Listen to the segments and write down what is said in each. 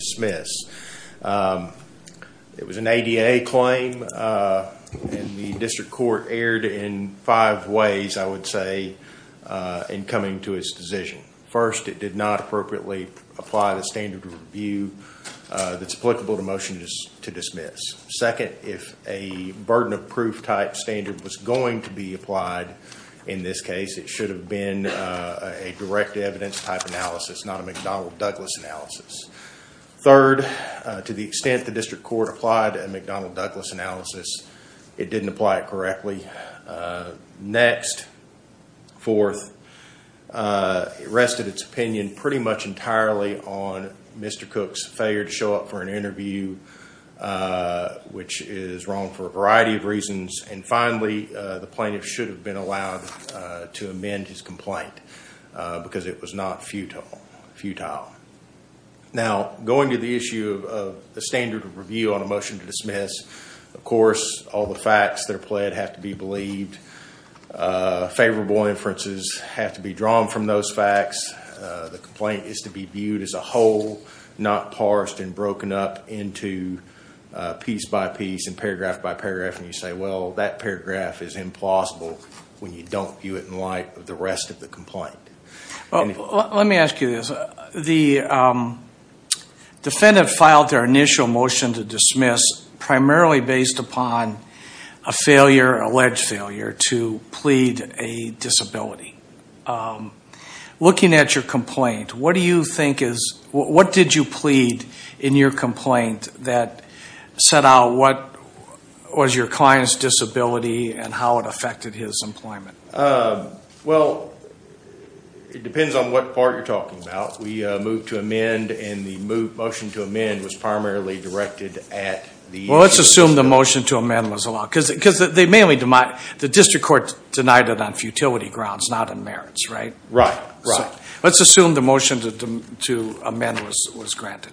It was an ADA claim and the District Court erred in five ways, I would say, in coming to its decision. First, it did not appropriately apply the standard of review that's applicable to motions to dismiss. Second, if a burden of proof type standard was going to be applied in this case, it should have been a direct evidence type analysis, not a McDonnell-Douglas analysis. Third, to the extent the District Court applied a McDonnell-Douglas analysis, it didn't apply it correctly. Next, fourth, it rested its opinion pretty much entirely on Mr. Cook's failure to show up for an interview, which is wrong for a variety of reasons. And finally, the plaintiff should have been allowed to amend his complaint because it was not futile. Now going to the issue of the standard of review on a motion to dismiss, of course, all the facts that are pled have to be believed, favorable inferences have to be drawn from those facts, the complaint is to be viewed as a whole, not parsed and broken up into piece by piece and paragraph by paragraph, and you say, well, that paragraph is implausible when you don't view it in light of the rest of the complaint. Let me ask you this, the defendant filed their initial motion to dismiss primarily based upon a failure, alleged failure, to plead a disability. Looking at your complaint, what do you think is, what did you plead in your complaint that set out what was your client's disability and how it affected his employment? Well, it depends on what part you're talking about. We moved to amend and the motion to amend was primarily directed at the... Well, let's assume the motion to amend was allowed because they mainly, the District Court denied it on futility grounds, not in merits, right? Right. Let's assume the motion to amend was granted.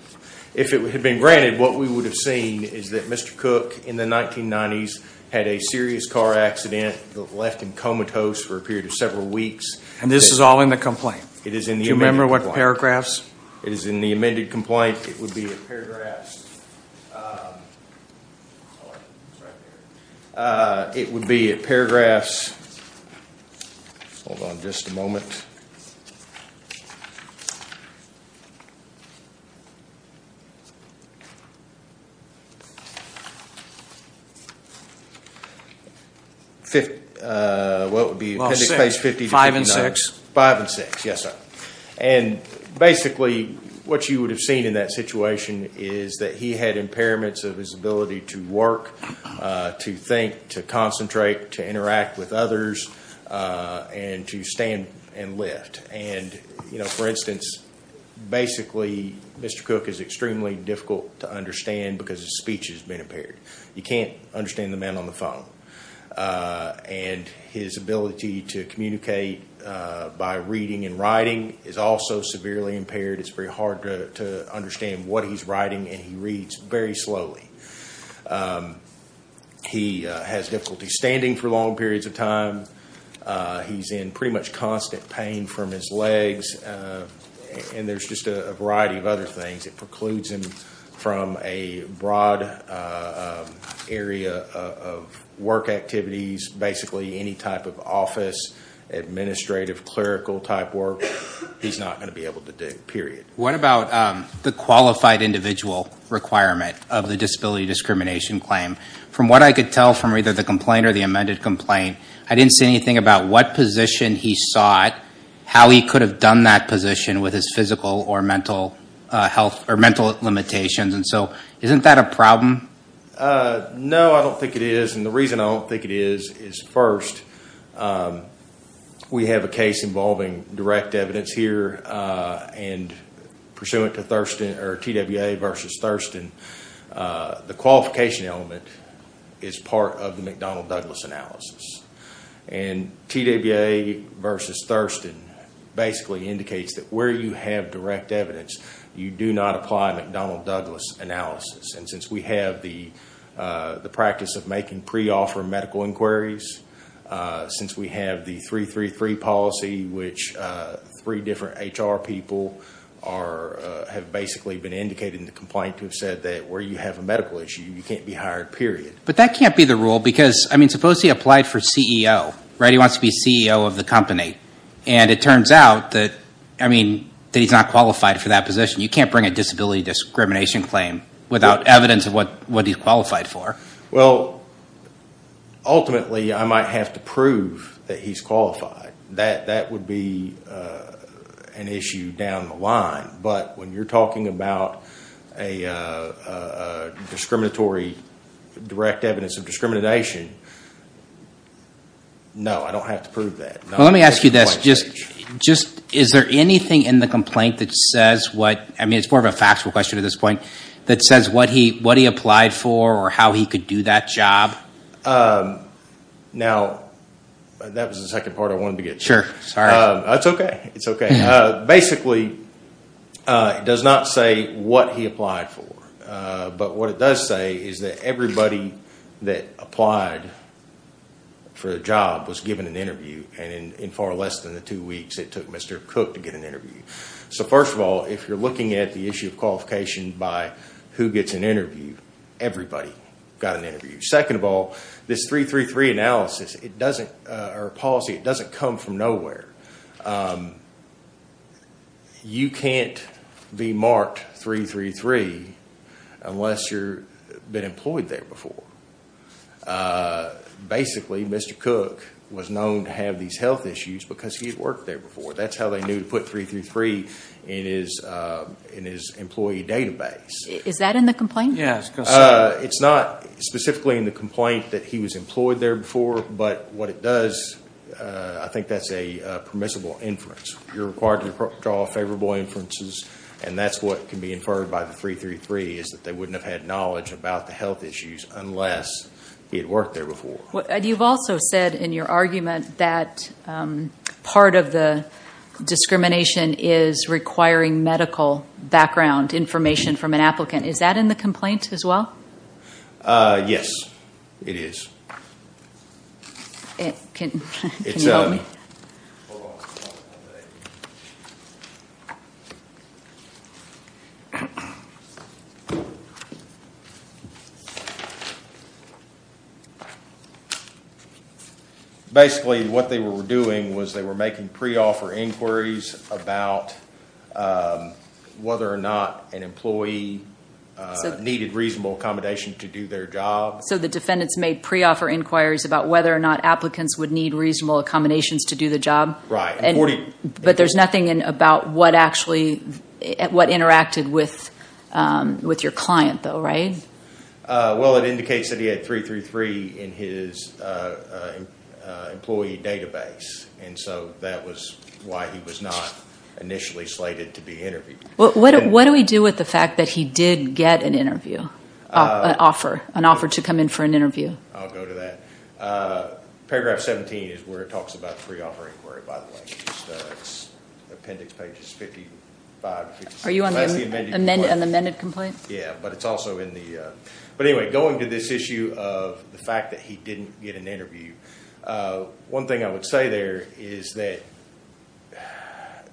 If it had been granted, what we would have seen is that Mr. Cook in the 1990s had a serious car accident that left him comatose for a period of several weeks. And this is all in the complaint? It is in the amended complaint. Do you remember what paragraphs? It is in the amended complaint. It would be at paragraphs, it would be at paragraphs, hold on just a moment, what would be appendix page 50-59? Five and six. Five and six, yes sir. And basically what you would have seen in that situation is that he had impairments of his ability to work, to think, to concentrate, to interact with others, and to stand and lift. And, you know, for instance, basically Mr. Cook is extremely difficult to understand because his speech has been impaired. You can't understand the man on the phone. And his ability to communicate by reading and writing is also severely impaired. It's very hard to understand what he's writing and he reads very slowly. He has difficulty standing for long periods of time. He's in pretty much constant pain from his legs and there's just a variety of other things that precludes him from a broad area of work activities. Basically any type of office, administrative, clerical type work, he's not going to be able to do, period. What about the qualified individual requirement of the disability discrimination claim? From what I could tell from either the complaint or the amended complaint, I didn't see anything about what position he sought, how he could have done that position with his physical or mental limitations. And so, isn't that a problem? No, I don't think it is. And the reason I don't think it is, is first, we have a case involving direct evidence here and pursuant to TWA versus Thurston, the qualification element is part of the McDonnell Douglas analysis. And TWA versus Thurston basically indicates that where you have direct evidence, you do not apply McDonnell Douglas analysis. And since we have the practice of making pre-offer medical inquiries, since we have the 333 policy, which three different HR people have basically been indicated in the complaint to have said that where you have a medical issue, you can't be hired, period. But that can't be the rule because, I mean, suppose he applied for CEO, right? He wants to be CEO of the company. And it turns out that, I mean, that he's not qualified for that position. You can't bring a disability discrimination claim without evidence of what he's qualified for. Well, ultimately, I might have to prove that he's qualified. That would be an issue down the line. But when you're talking about a discriminatory direct evidence of discrimination, no, I don't have to prove that. Well, let me ask you this. Is there anything in the complaint that says what, I mean, it's more of a factual question at this point, that says what he applied for or how he could do that job? Now, that was the second part I wanted to get to. Sure, sorry. That's okay. It's okay. Basically, it does not say what he applied for. But what it does say is that everybody that applied for the job was given an interview. And in far less than the two weeks, it took Mr. Cook to get an interview. So first of all, if you're looking at the issue of qualification by who gets an interview, everybody got an interview. Second of all, this 333 analysis, it doesn't, or policy, it doesn't come from nowhere. You can't be marked 333 unless you've been employed there before. Basically, Mr. Cook was known to have these health issues because he had worked there before. That's how they knew to put 333 in his employee database. Is that in the complaint? Yeah. It's not specifically in the complaint that he was employed there before. But what it does, I think that's a permissible inference. You're required to draw favorable inferences. And that's what can be inferred by the 333, is that they wouldn't have had knowledge about the health issues unless he had worked there before. You've also said in your argument that part of the discrimination is requiring medical background information from an applicant. Is that in the complaint as well? Yes, it is. Can you help me? Basically, what they were doing was they were making pre-offer inquiries about whether or not an employee needed reasonable accommodation to do their job. So the defendants made pre-offer inquiries about whether or not applicants would need reasonable accommodations to do the job. But there's nothing about what interacted with your client, though, right? Well, it indicates that he had 333 in his employee database. And so that was why he was not initially slated to be interviewed. What do we do with the fact that he did get an interview, an offer, an offer to come in for an interview? I'll go to that. Paragraph 17 is where it talks about pre-offer inquiry, by the way. It's appendix pages 55 and 56. Are you on the amended complaint? Yeah, but it's also in the... But anyway, going to this issue of the fact that he didn't get an interview, one thing I would say there is that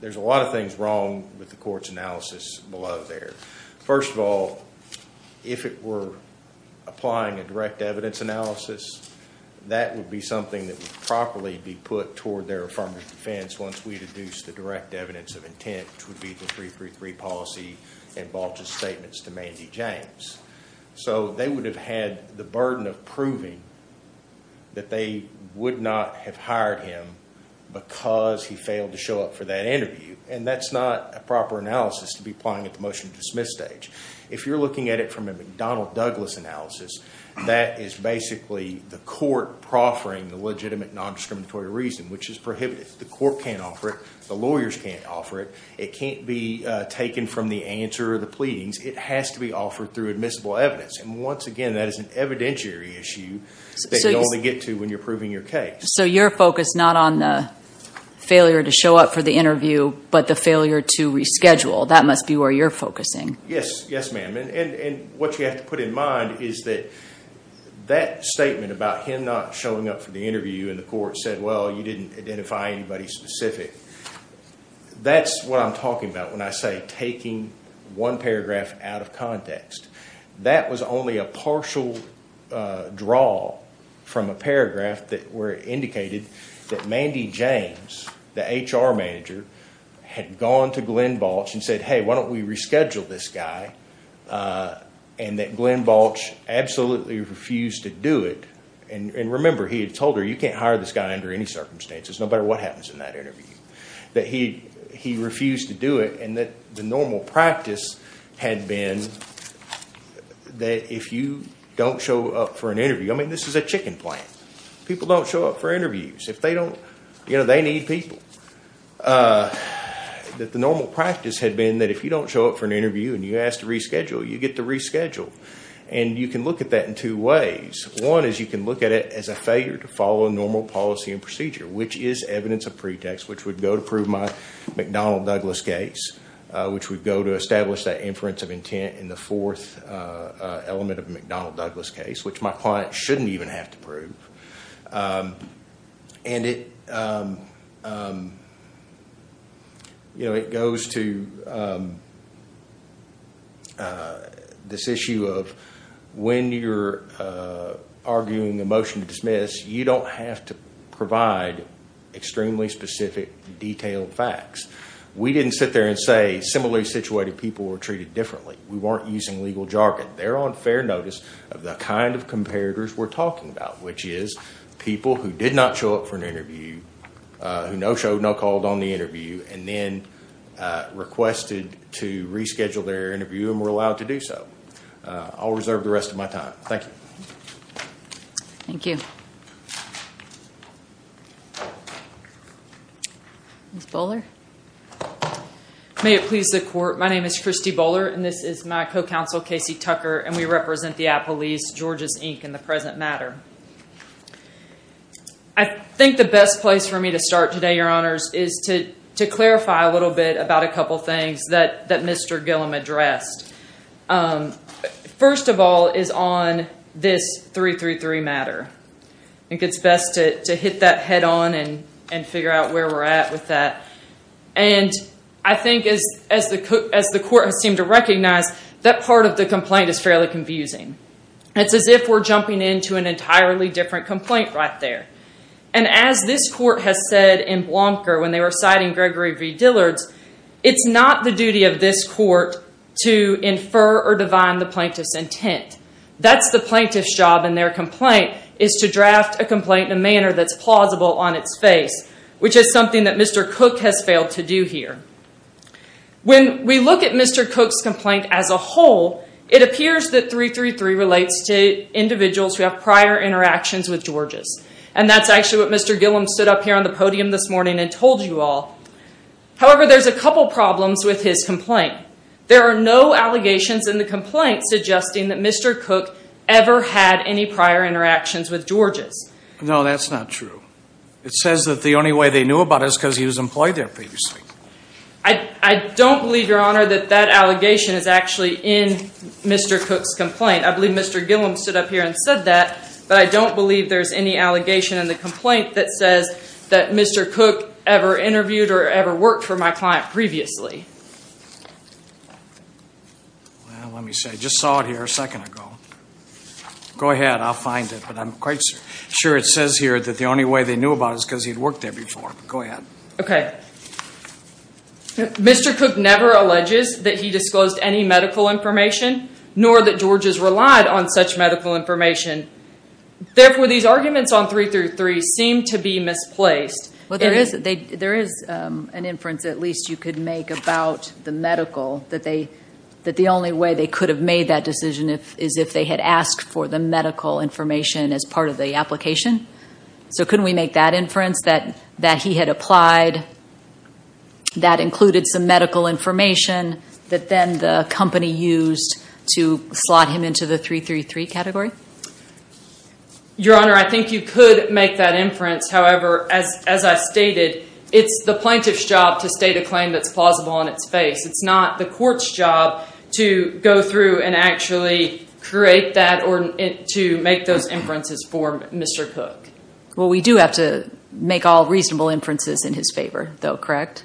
there's a lot of things wrong with the court's analysis below there. First of all, if it were applying a direct evidence analysis, that would be something that would properly be put toward their affirmative defense once we deduce the direct evidence of intent, which would be the 333 policy and Balch's statements to Mandy James. So they would have had the burden of proving that they would not have hired him because he failed to show up for that interview. And that's not a proper analysis to be applying at the motion to dismiss stage. If you're looking at it from a McDonnell-Douglas analysis, that is basically the court proffering the legitimate nondiscriminatory reason, which is prohibited. The court can't offer it. The lawyers can't offer it. It can't be taken from the answer or the pleadings. It has to be offered through admissible evidence. And once again, that is an evidentiary issue that you only get to when you're proving your case. So you're focused not on the failure to show up for the interview, but the failure to reschedule. That must be where you're focusing. Yes, ma'am. And what you have to put in mind is that that statement about him not showing up for the interview and the court said, well, you didn't identify anybody specific. That's what I'm talking about when I say taking one paragraph out of context. That was only a partial draw from a paragraph that indicated that Mandy James, the HR manager, had gone to Glenn Balch and said, hey, why don't we reschedule this guy? And that Glenn Balch absolutely refused to do it. And remember, he had told her, you can't hire this guy under any circumstances, no matter what happens in that interview. He refused to do it. And the normal practice had been that if you don't show up for an interview, I mean, this is a chicken plant. People don't show up for interviews if they don't, you know, they need people. The normal practice had been that if you don't show up for an interview and you ask to reschedule, you get to reschedule. And you can look at that in two ways. One is you can look at it as a failure to follow normal policy and procedure, which is evidence of pretext, which would go to prove my McDonald-Douglas case, which would go to establish that inference of intent in the fourth element of a McDonald-Douglas case, which my client shouldn't even have to prove. And it, you know, it goes to this issue of when you're arguing a motion to dismiss, you don't have to provide extremely specific, detailed facts. We didn't sit there and say similarly situated people were treated differently. We weren't using legal jargon. They're on fair notice of the kind of comparators we're talking about, which is people who did not show up for an interview, who no showed, no called on the interview, and then requested to reschedule their interview and were allowed to do so. I'll reserve the rest of my time. Thank you. Thank you. Ms. Bowler? May it please the court. My name is Christy Bowler, and this is my co-counsel, Casey Tucker, and we represent the Apple East, Georgia's Inc. in the present matter. I think the best place for me to start today, your honors, is to clarify a little bit about a couple things that Mr. Gillum addressed. First of all is on this 333 matter. I think it's best to hit that head on and figure out where we're at with that. I think as the court has seemed to recognize, that part of the complaint is fairly confusing. It's as if we're jumping into an entirely different complaint right there. As this court has said in Blomker when they were citing Gregory V. Dillard's, it's not the duty of this court to infer or divine the plaintiff's intent. That's the plaintiff's job in their complaint, is to draft a complaint in a manner that's plausible on its face, which is something that Mr. Cooke has failed to do here. When we look at Mr. Cooke's complaint as a whole, it appears that 333 relates to individuals who have prior interactions with Georges. That's actually what Mr. Gillum stood up here on the podium this morning and told you all. However, there's a couple problems with his complaint. There are no allegations in the complaint suggesting that Mr. Cooke ever had any prior interactions with Georges. No, that's not true. It says that the only way they knew about it is because he was employed there previously. I don't believe, Your Honor, that that allegation is actually in Mr. Cooke's complaint. I believe Mr. Gillum stood up here and said that, but I don't believe there's any allegation in the complaint that says that Mr. Cooke ever interviewed or ever worked for my client previously. Well, let me see. I just saw it here a second ago. Go ahead. I'll find it. But I'm quite sure it says here that the only way they knew about it is because he'd worked there before. Go ahead. Okay. Mr. Cooke never alleges that he disclosed any medical information, nor that Georges relied on such medical information. Therefore, these arguments on 333 seem to be misplaced. There is an inference, at least, you could make about the medical, that the only way they could have made that decision is if they had asked for the medical information as part of the application. So couldn't we make that inference, that he had applied, that included some medical information that then the company used to slot him into the 333 category? Your Honor, I think you could make that inference. However, as I stated, it's the plaintiff's job to state a claim that's plausible on its face. It's not the court's job to go through and actually create that or to make those inferences for Mr. Cooke. Well, we do have to make all reasonable inferences in his favor, though, correct?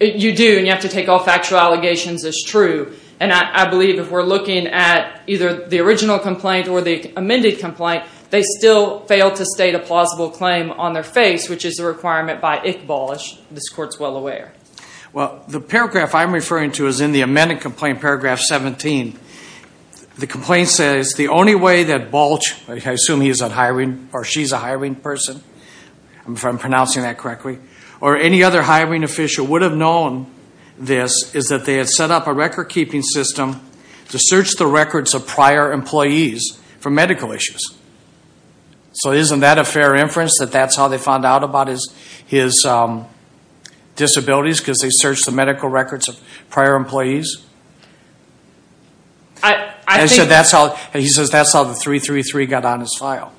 You do, and you have to take all factual allegations as true. And I believe if we're looking at either the original complaint or the amended complaint, they still fail to state a plausible claim on their face, which is a requirement by Iqbal, this Court's well aware. Well, the paragraph I'm referring to is in the amended complaint, paragraph 17. The complaint says, the only way that Balch, I assume he's a hiring, or she's a hiring person, if I'm pronouncing that correctly, or any other hiring official would have known this is that they had set up a record-keeping system to search the records of prior employees for medical issues. So, isn't that a fair inference, that that's how they found out about his disabilities, because they searched the medical records of prior employees? I think... He says that's how the 333 got on his file.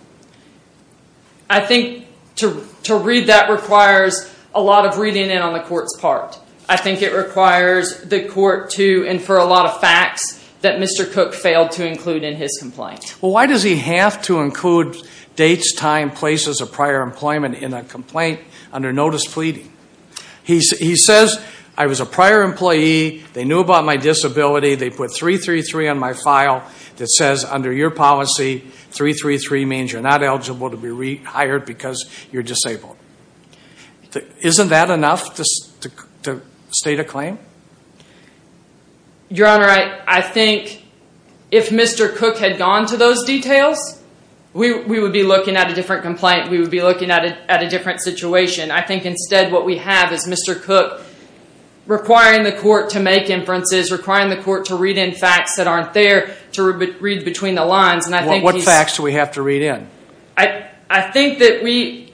I think to read that requires a lot of reading in on the Court's part. I think it requires the Court to infer a lot of facts that Mr. Cooke failed to include in his complaint. Well, why does he have to include dates, time, places of prior employment in a complaint under notice pleading? He says, I was a prior employee, they knew about my disability, they put 333 on my file that says under your policy, 333 means you're not eligible to be rehired because you're disabled. Isn't that enough to state a claim? Your Honor, I think if Mr. Cooke had gone to those details, we would be looking at a different complaint, we would be looking at a different situation. I think instead what we have is Mr. Cooke requiring the Court to make inferences, requiring the Court to read in facts that aren't there to read between the lines. What facts do we have to read in? I think that we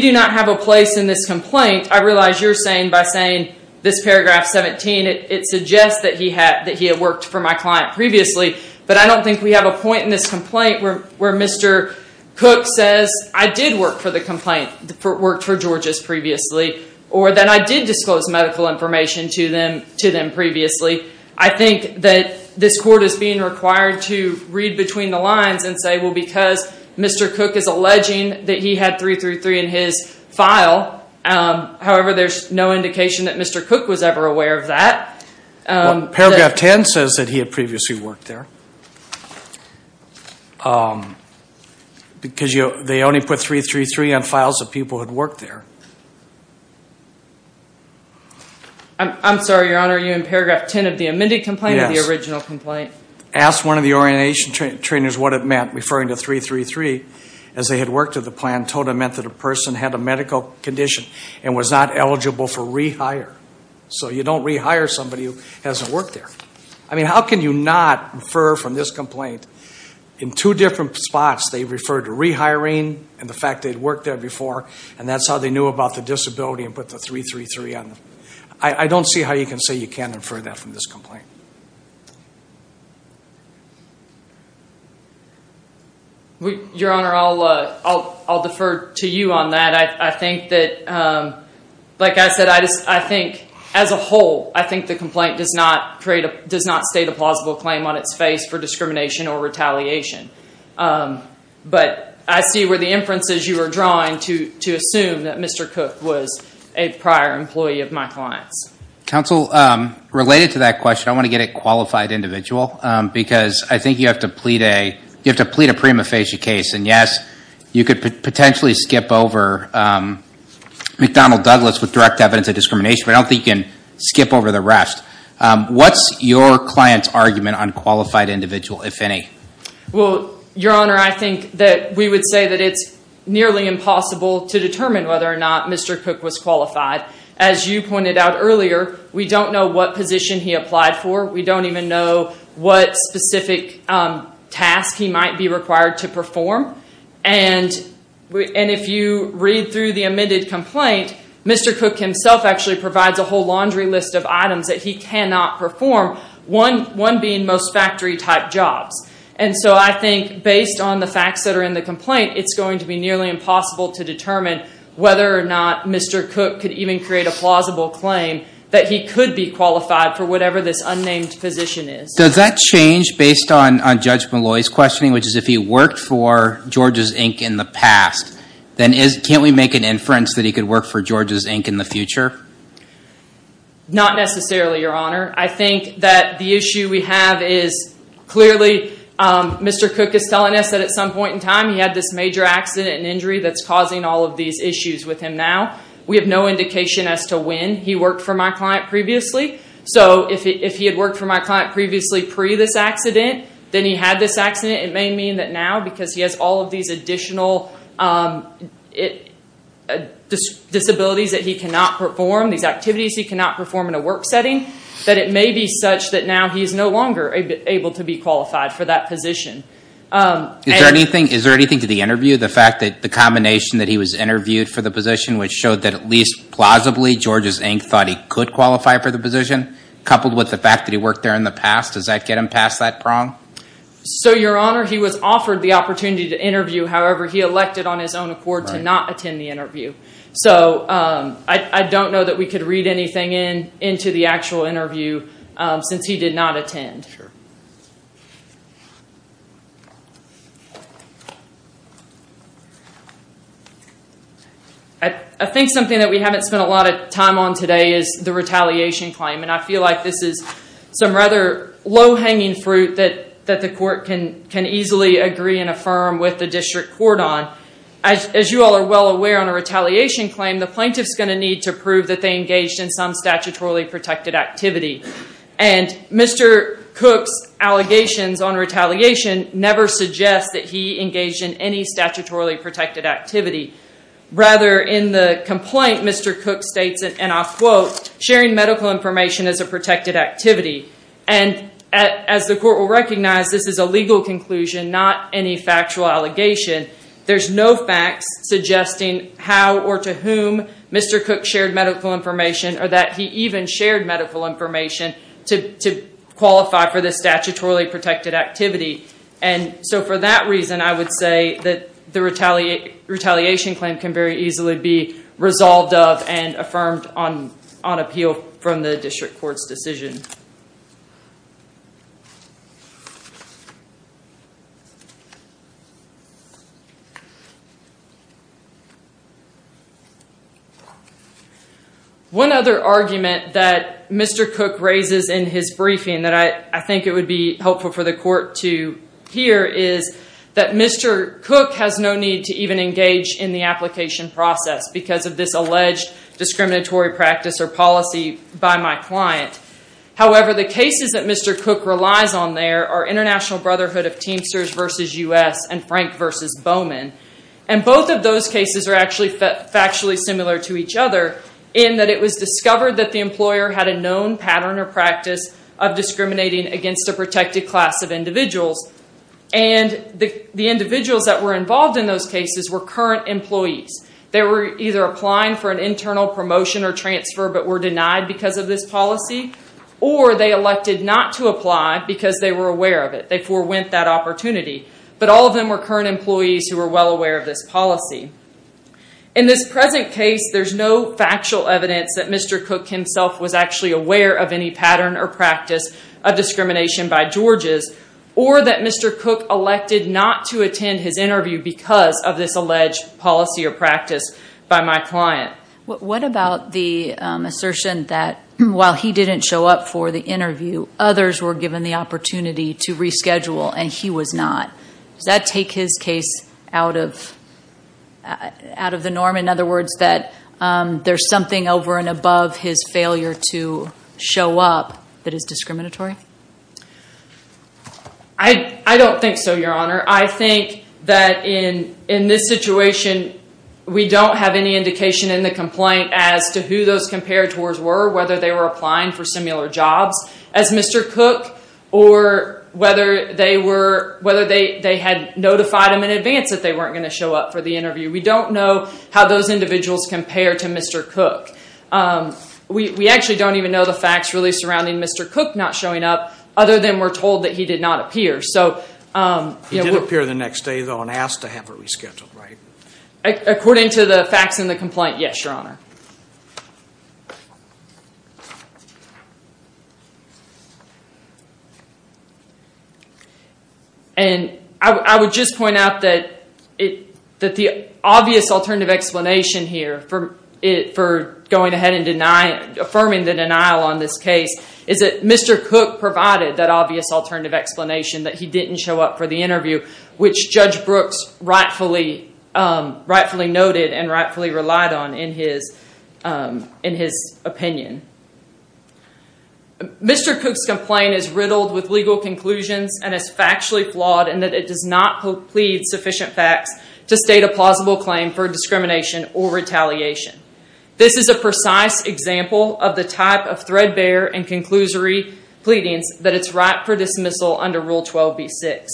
do not have a place in this complaint. I realize you're saying by saying this paragraph 17, it suggests that he had worked for my client previously, but I don't think we have a point in this complaint where Mr. Cooke says I did work for the complaint, worked for Georgia's previously, or that I did disclose medical information to them previously. I think that this Court is being required to read between the lines and say, well, because Mr. Cooke is alleging that he had 333 in his file, however, there's no indication that Mr. Cooke was ever aware of that. Paragraph 10 says that he had previously worked there because they only put 333 on files of people who had worked there. I'm sorry, Your Honor, are you in paragraph 10 of the amended complaint or the original complaint? Asked one of the orientation trainers what it meant, referring to 333, as they had worked to the plan, told him it meant that a person had a medical condition and was not eligible for rehire. So you don't rehire somebody who hasn't worked there. I mean, how can you not infer from this complaint, in two different spots, they referred to rehiring and the fact they'd worked there before, and that's how they knew about the disability and put the 333 on them. I don't see how you can say you can't infer that from this complaint. Your Honor, I'll defer to you on that. I think that, like I said, I think as a whole, I think the complaint does not state a plausible claim on its face for discrimination or retaliation. But I see where the inferences you are drawing to assume that Mr. Cooke was a prior employee of my clients. Counsel, related to that question, I want to get at qualified individual, because I think you have to plead a prima facie case, and yes, you could potentially skip over McDonnell Douglas with direct evidence of discrimination, but I don't think you can skip over the rest. What's your client's argument on qualified individual, if any? Well, Your Honor, I think that we would say that it's nearly impossible to determine whether or not Mr. Cooke was qualified. As you pointed out earlier, we don't know what position he applied for. We don't even know what specific task he might be required to perform. If you read through the amended complaint, Mr. Cooke himself actually provides a whole laundry list of items that he cannot perform, one being most factory-type jobs. I think based on the facts that are in the complaint, it's going to be nearly impossible to determine whether or not Mr. Cooke could even create a plausible claim that he could be qualified for whatever this unnamed position is. Does that change based on Judge Malloy's questioning, which is if he worked for Georges, Inc. in the past, then can't we make an inference that he could work for Georges, Inc. in the future? Not necessarily, Your Honor. I think that the issue we have is clearly Mr. Cooke is telling us that at some point in time he had this major accident and injury that's causing all of these issues with him now. We have no indication as to when he worked for my client previously, so if he had worked for my client previously pre-this accident, then he had this accident, it may mean that now because he has all of these additional disabilities that he cannot perform, these activities he cannot perform in a work setting, that it may be such that now he is no longer able to be qualified for that position. Is there anything to the interview, the fact that the combination that he was interviewed for the position which showed that at least plausibly Georges, Inc. thought he could qualify for the position, coupled with the fact that he worked there in the past, does that get him past that prong? So Your Honor, he was offered the opportunity to interview, however he elected on his own accord to not attend the interview. So I don't know that we could read anything into the actual interview since he did not attend. I think something that we haven't spent a lot of time on today is the retaliation claim and I feel like this is some rather low hanging fruit that the court can easily agree and affirm with the district court on. As you all are well aware on a retaliation claim, the plaintiff is going to need to prove that they engaged in some statutorily protected activity. And Mr. Cook's allegations on retaliation never suggest that he engaged in any statutorily protected activity. Rather in the complaint, Mr. Cook states, and I'll quote, sharing medical information is a protected activity. And as the court will recognize, this is a legal conclusion, not any factual allegation. There's no facts suggesting how or to whom Mr. Cook shared medical information or that he even shared medical information to qualify for this statutorily protected activity. And so for that reason, I would say that the retaliation claim can very easily be resolved of and affirmed on appeal from the district court's decision. One other argument that Mr. Cook raises in his briefing that I think it would be helpful for the court to hear is that Mr. Cook has no need to even engage in the application process because of this alleged discriminatory practice or policy by my client. However, the cases that Mr. Cook relies on there are International Brotherhood of Teamsters versus U.S. and Frank versus Bowman. And both of those cases are actually factually similar to each other in that it was discovered that the employer had a known pattern or practice of discriminating against a protected class of individuals. And the individuals that were involved in those cases were current employees. They were either applying for an internal promotion or transfer but were denied because of this policy or they elected not to apply because they were aware of it. They forwent that opportunity. But all of them were current employees who were well aware of this policy. In this present case, there's no factual evidence that Mr. Cook himself was actually aware of any pattern or practice of discrimination by Georges or that Mr. Cook elected not to attend his interview because of this alleged policy or practice by my client. What about the assertion that while he didn't show up for the interview, others were given the opportunity to reschedule and he was not? Does that take his case out of the norm? In other words, that there's something over and above his failure to show up that is discriminatory? I don't think so, Your Honor. I think that in this situation, we don't have any indication in the complaint as to who those comparators were, whether they were applying for similar jobs as Mr. Cook or whether they had notified him in advance that they weren't going to show up for the interview. We don't know how those individuals compare to Mr. Cook. We actually don't even know the facts really surrounding Mr. Cook not showing up, other than we're told that he did not appear. He did appear the next day, though, and asked to have it rescheduled, right? According to the facts in the complaint, yes, Your Honor. And I would just point out that the obvious alternative explanation here for going ahead and affirming the denial on this case is that Mr. Cook provided that obvious alternative explanation that he didn't show up for the interview, which Judge Brooks rightfully noted and rightfully relied on in his opinion. Mr. Cook's complaint is riddled with legal conclusions and is factually flawed in that it does not plead sufficient facts to state a plausible claim for discrimination or retaliation. This is a precise example of the type of threadbare and conclusory pleadings that it's right for dismissal under Rule 12b-6.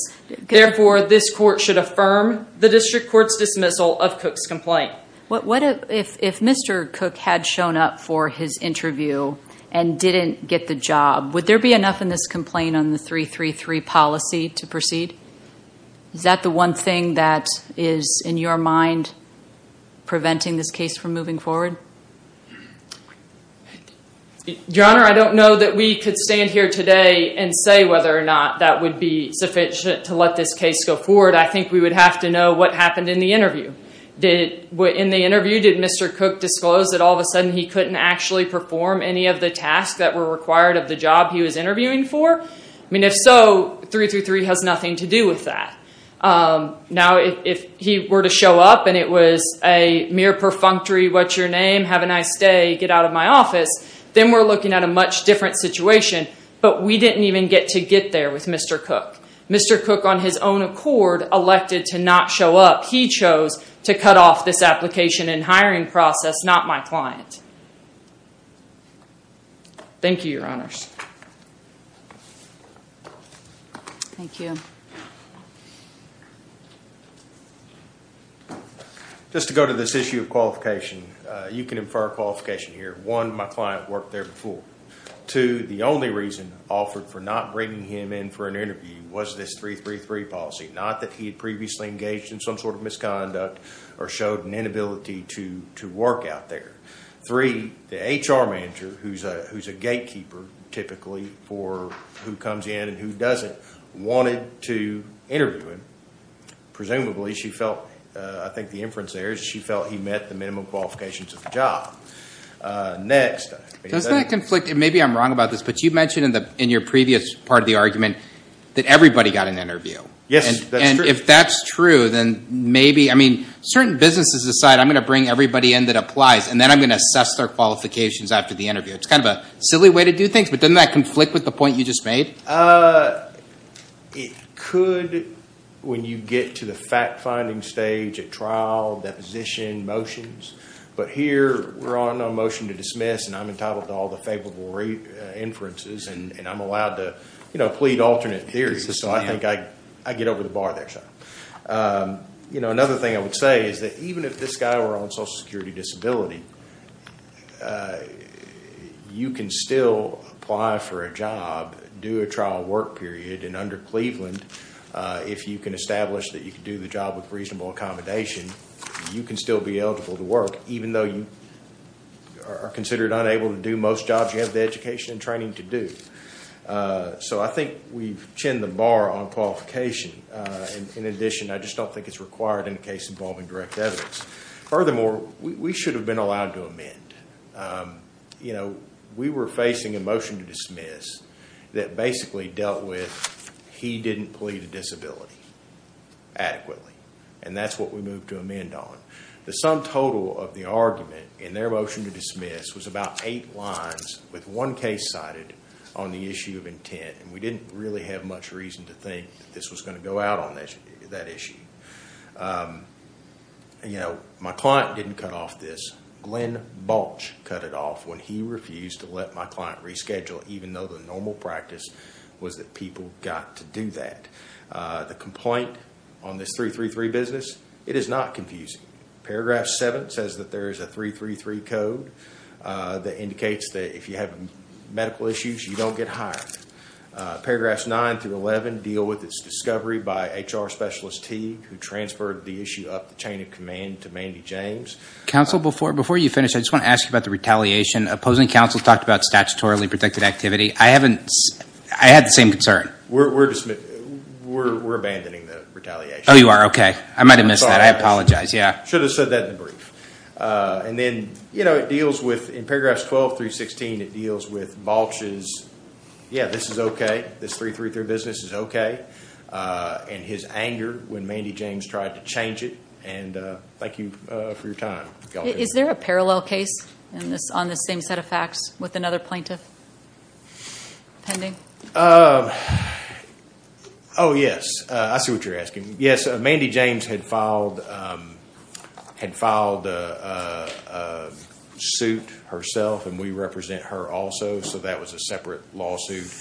Therefore, this court should affirm the district court's dismissal of Cook's complaint. If Mr. Cook had shown up for his interview and didn't get the job, would there be enough in this complaint on the 333 policy to proceed? Is that the one thing that is in your mind preventing this case from moving forward? Your Honor, I don't know that we could stand here today and say whether or not that would be sufficient to let this case go forward. I think we would have to know what happened in the interview. In the interview, did Mr. Cook disclose that all of a sudden he couldn't actually perform any of the tasks that were required of the job he was interviewing for? If so, 333 has nothing to do with that. If he were to show up and it was a mere perfunctory, what's your name, have a nice day, get out of my office, then we're looking at a much different situation, but we didn't even get to get there with Mr. Cook. Mr. Cook, on his own accord, elected to not show up. He chose to cut off this application and hiring process, not my client. Thank you, Your Honors. Thank you. Just to go to this issue of qualification, you can infer qualification here. One, my client worked there before. Two, the only reason offered for not bringing him in for an interview was this 333 policy, not that he had previously engaged in some sort of misconduct or showed an inability to work out there. Three, the HR manager, who's a gatekeeper typically for who comes in and who doesn't, wanted to interview him. Presumably, she felt, I think the inference there is she felt he met the minimum qualifications of the job. Next. Does that conflict? Maybe I'm wrong about this, but you mentioned in your previous part of the argument that everybody got an interview. Yes, that's true. If that's true, then maybe, I mean, certain businesses decide, I'm going to bring everybody in that applies, and then I'm going to assess their qualifications after the interview. It's kind of a silly way to do things, but doesn't that conflict with the point you just made? It could when you get to the fact-finding stage at trial, deposition, motions, but here we're on a motion to dismiss, and I'm entitled to all the favorable inferences, and I'm allowed to plead alternate theories, so I think I get over the bar there. Another thing I would say is that even if this guy were on Social Security Disability, you can still apply for a job, do a trial work period, and under Cleveland, if you can establish that you can do the job with reasonable accommodation, you can still be eligible to are considered unable to do most jobs you have the education and training to do. So I think we've chinned the bar on qualification. In addition, I just don't think it's required in a case involving direct evidence. Furthermore, we should have been allowed to amend. We were facing a motion to dismiss that basically dealt with he didn't plead a disability adequately, and that's what we moved to amend on. The sum total of the argument in their motion to dismiss was about eight lines with one case cited on the issue of intent, and we didn't really have much reason to think that this was going to go out on that issue. My client didn't cut off this. Glenn Balch cut it off when he refused to let my client reschedule even though the normal practice was that people got to do that. The complaint on this 333 business, it is not confusing. Paragraph 7 says that there is a 333 code that indicates that if you have medical issues, you don't get hired. Paragraphs 9 through 11 deal with its discovery by HR Specialist T, who transferred the issue up the chain of command to Mandy James. Counsel, before you finish, I just want to ask you about the retaliation. Opposing counsel talked about statutorily protected activity. I haven't, I had the same concern. We're dismissing, we're abandoning the retaliation. Oh, you are? Okay. I might have missed that. I apologize. Yeah. Should have said that in the brief. And then, you know, it deals with, in paragraphs 12 through 16, it deals with Balch's, yeah, this is okay. This 333 business is okay, and his anger when Mandy James tried to change it, and thank you for your time. Is there a parallel case on this same set of facts with another plaintiff, pending? Um, oh yes, I see what you're asking. Yes, Mandy James had filed, had filed a suit herself, and we represent her also, so that was a separate lawsuit.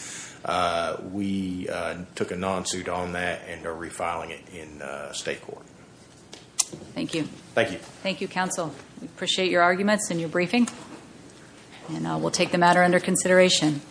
We took a non-suit on that and are refiling it in state court. Thank you. Thank you. Thank you, counsel. We appreciate your arguments and your briefing, and we'll take the matter under consideration.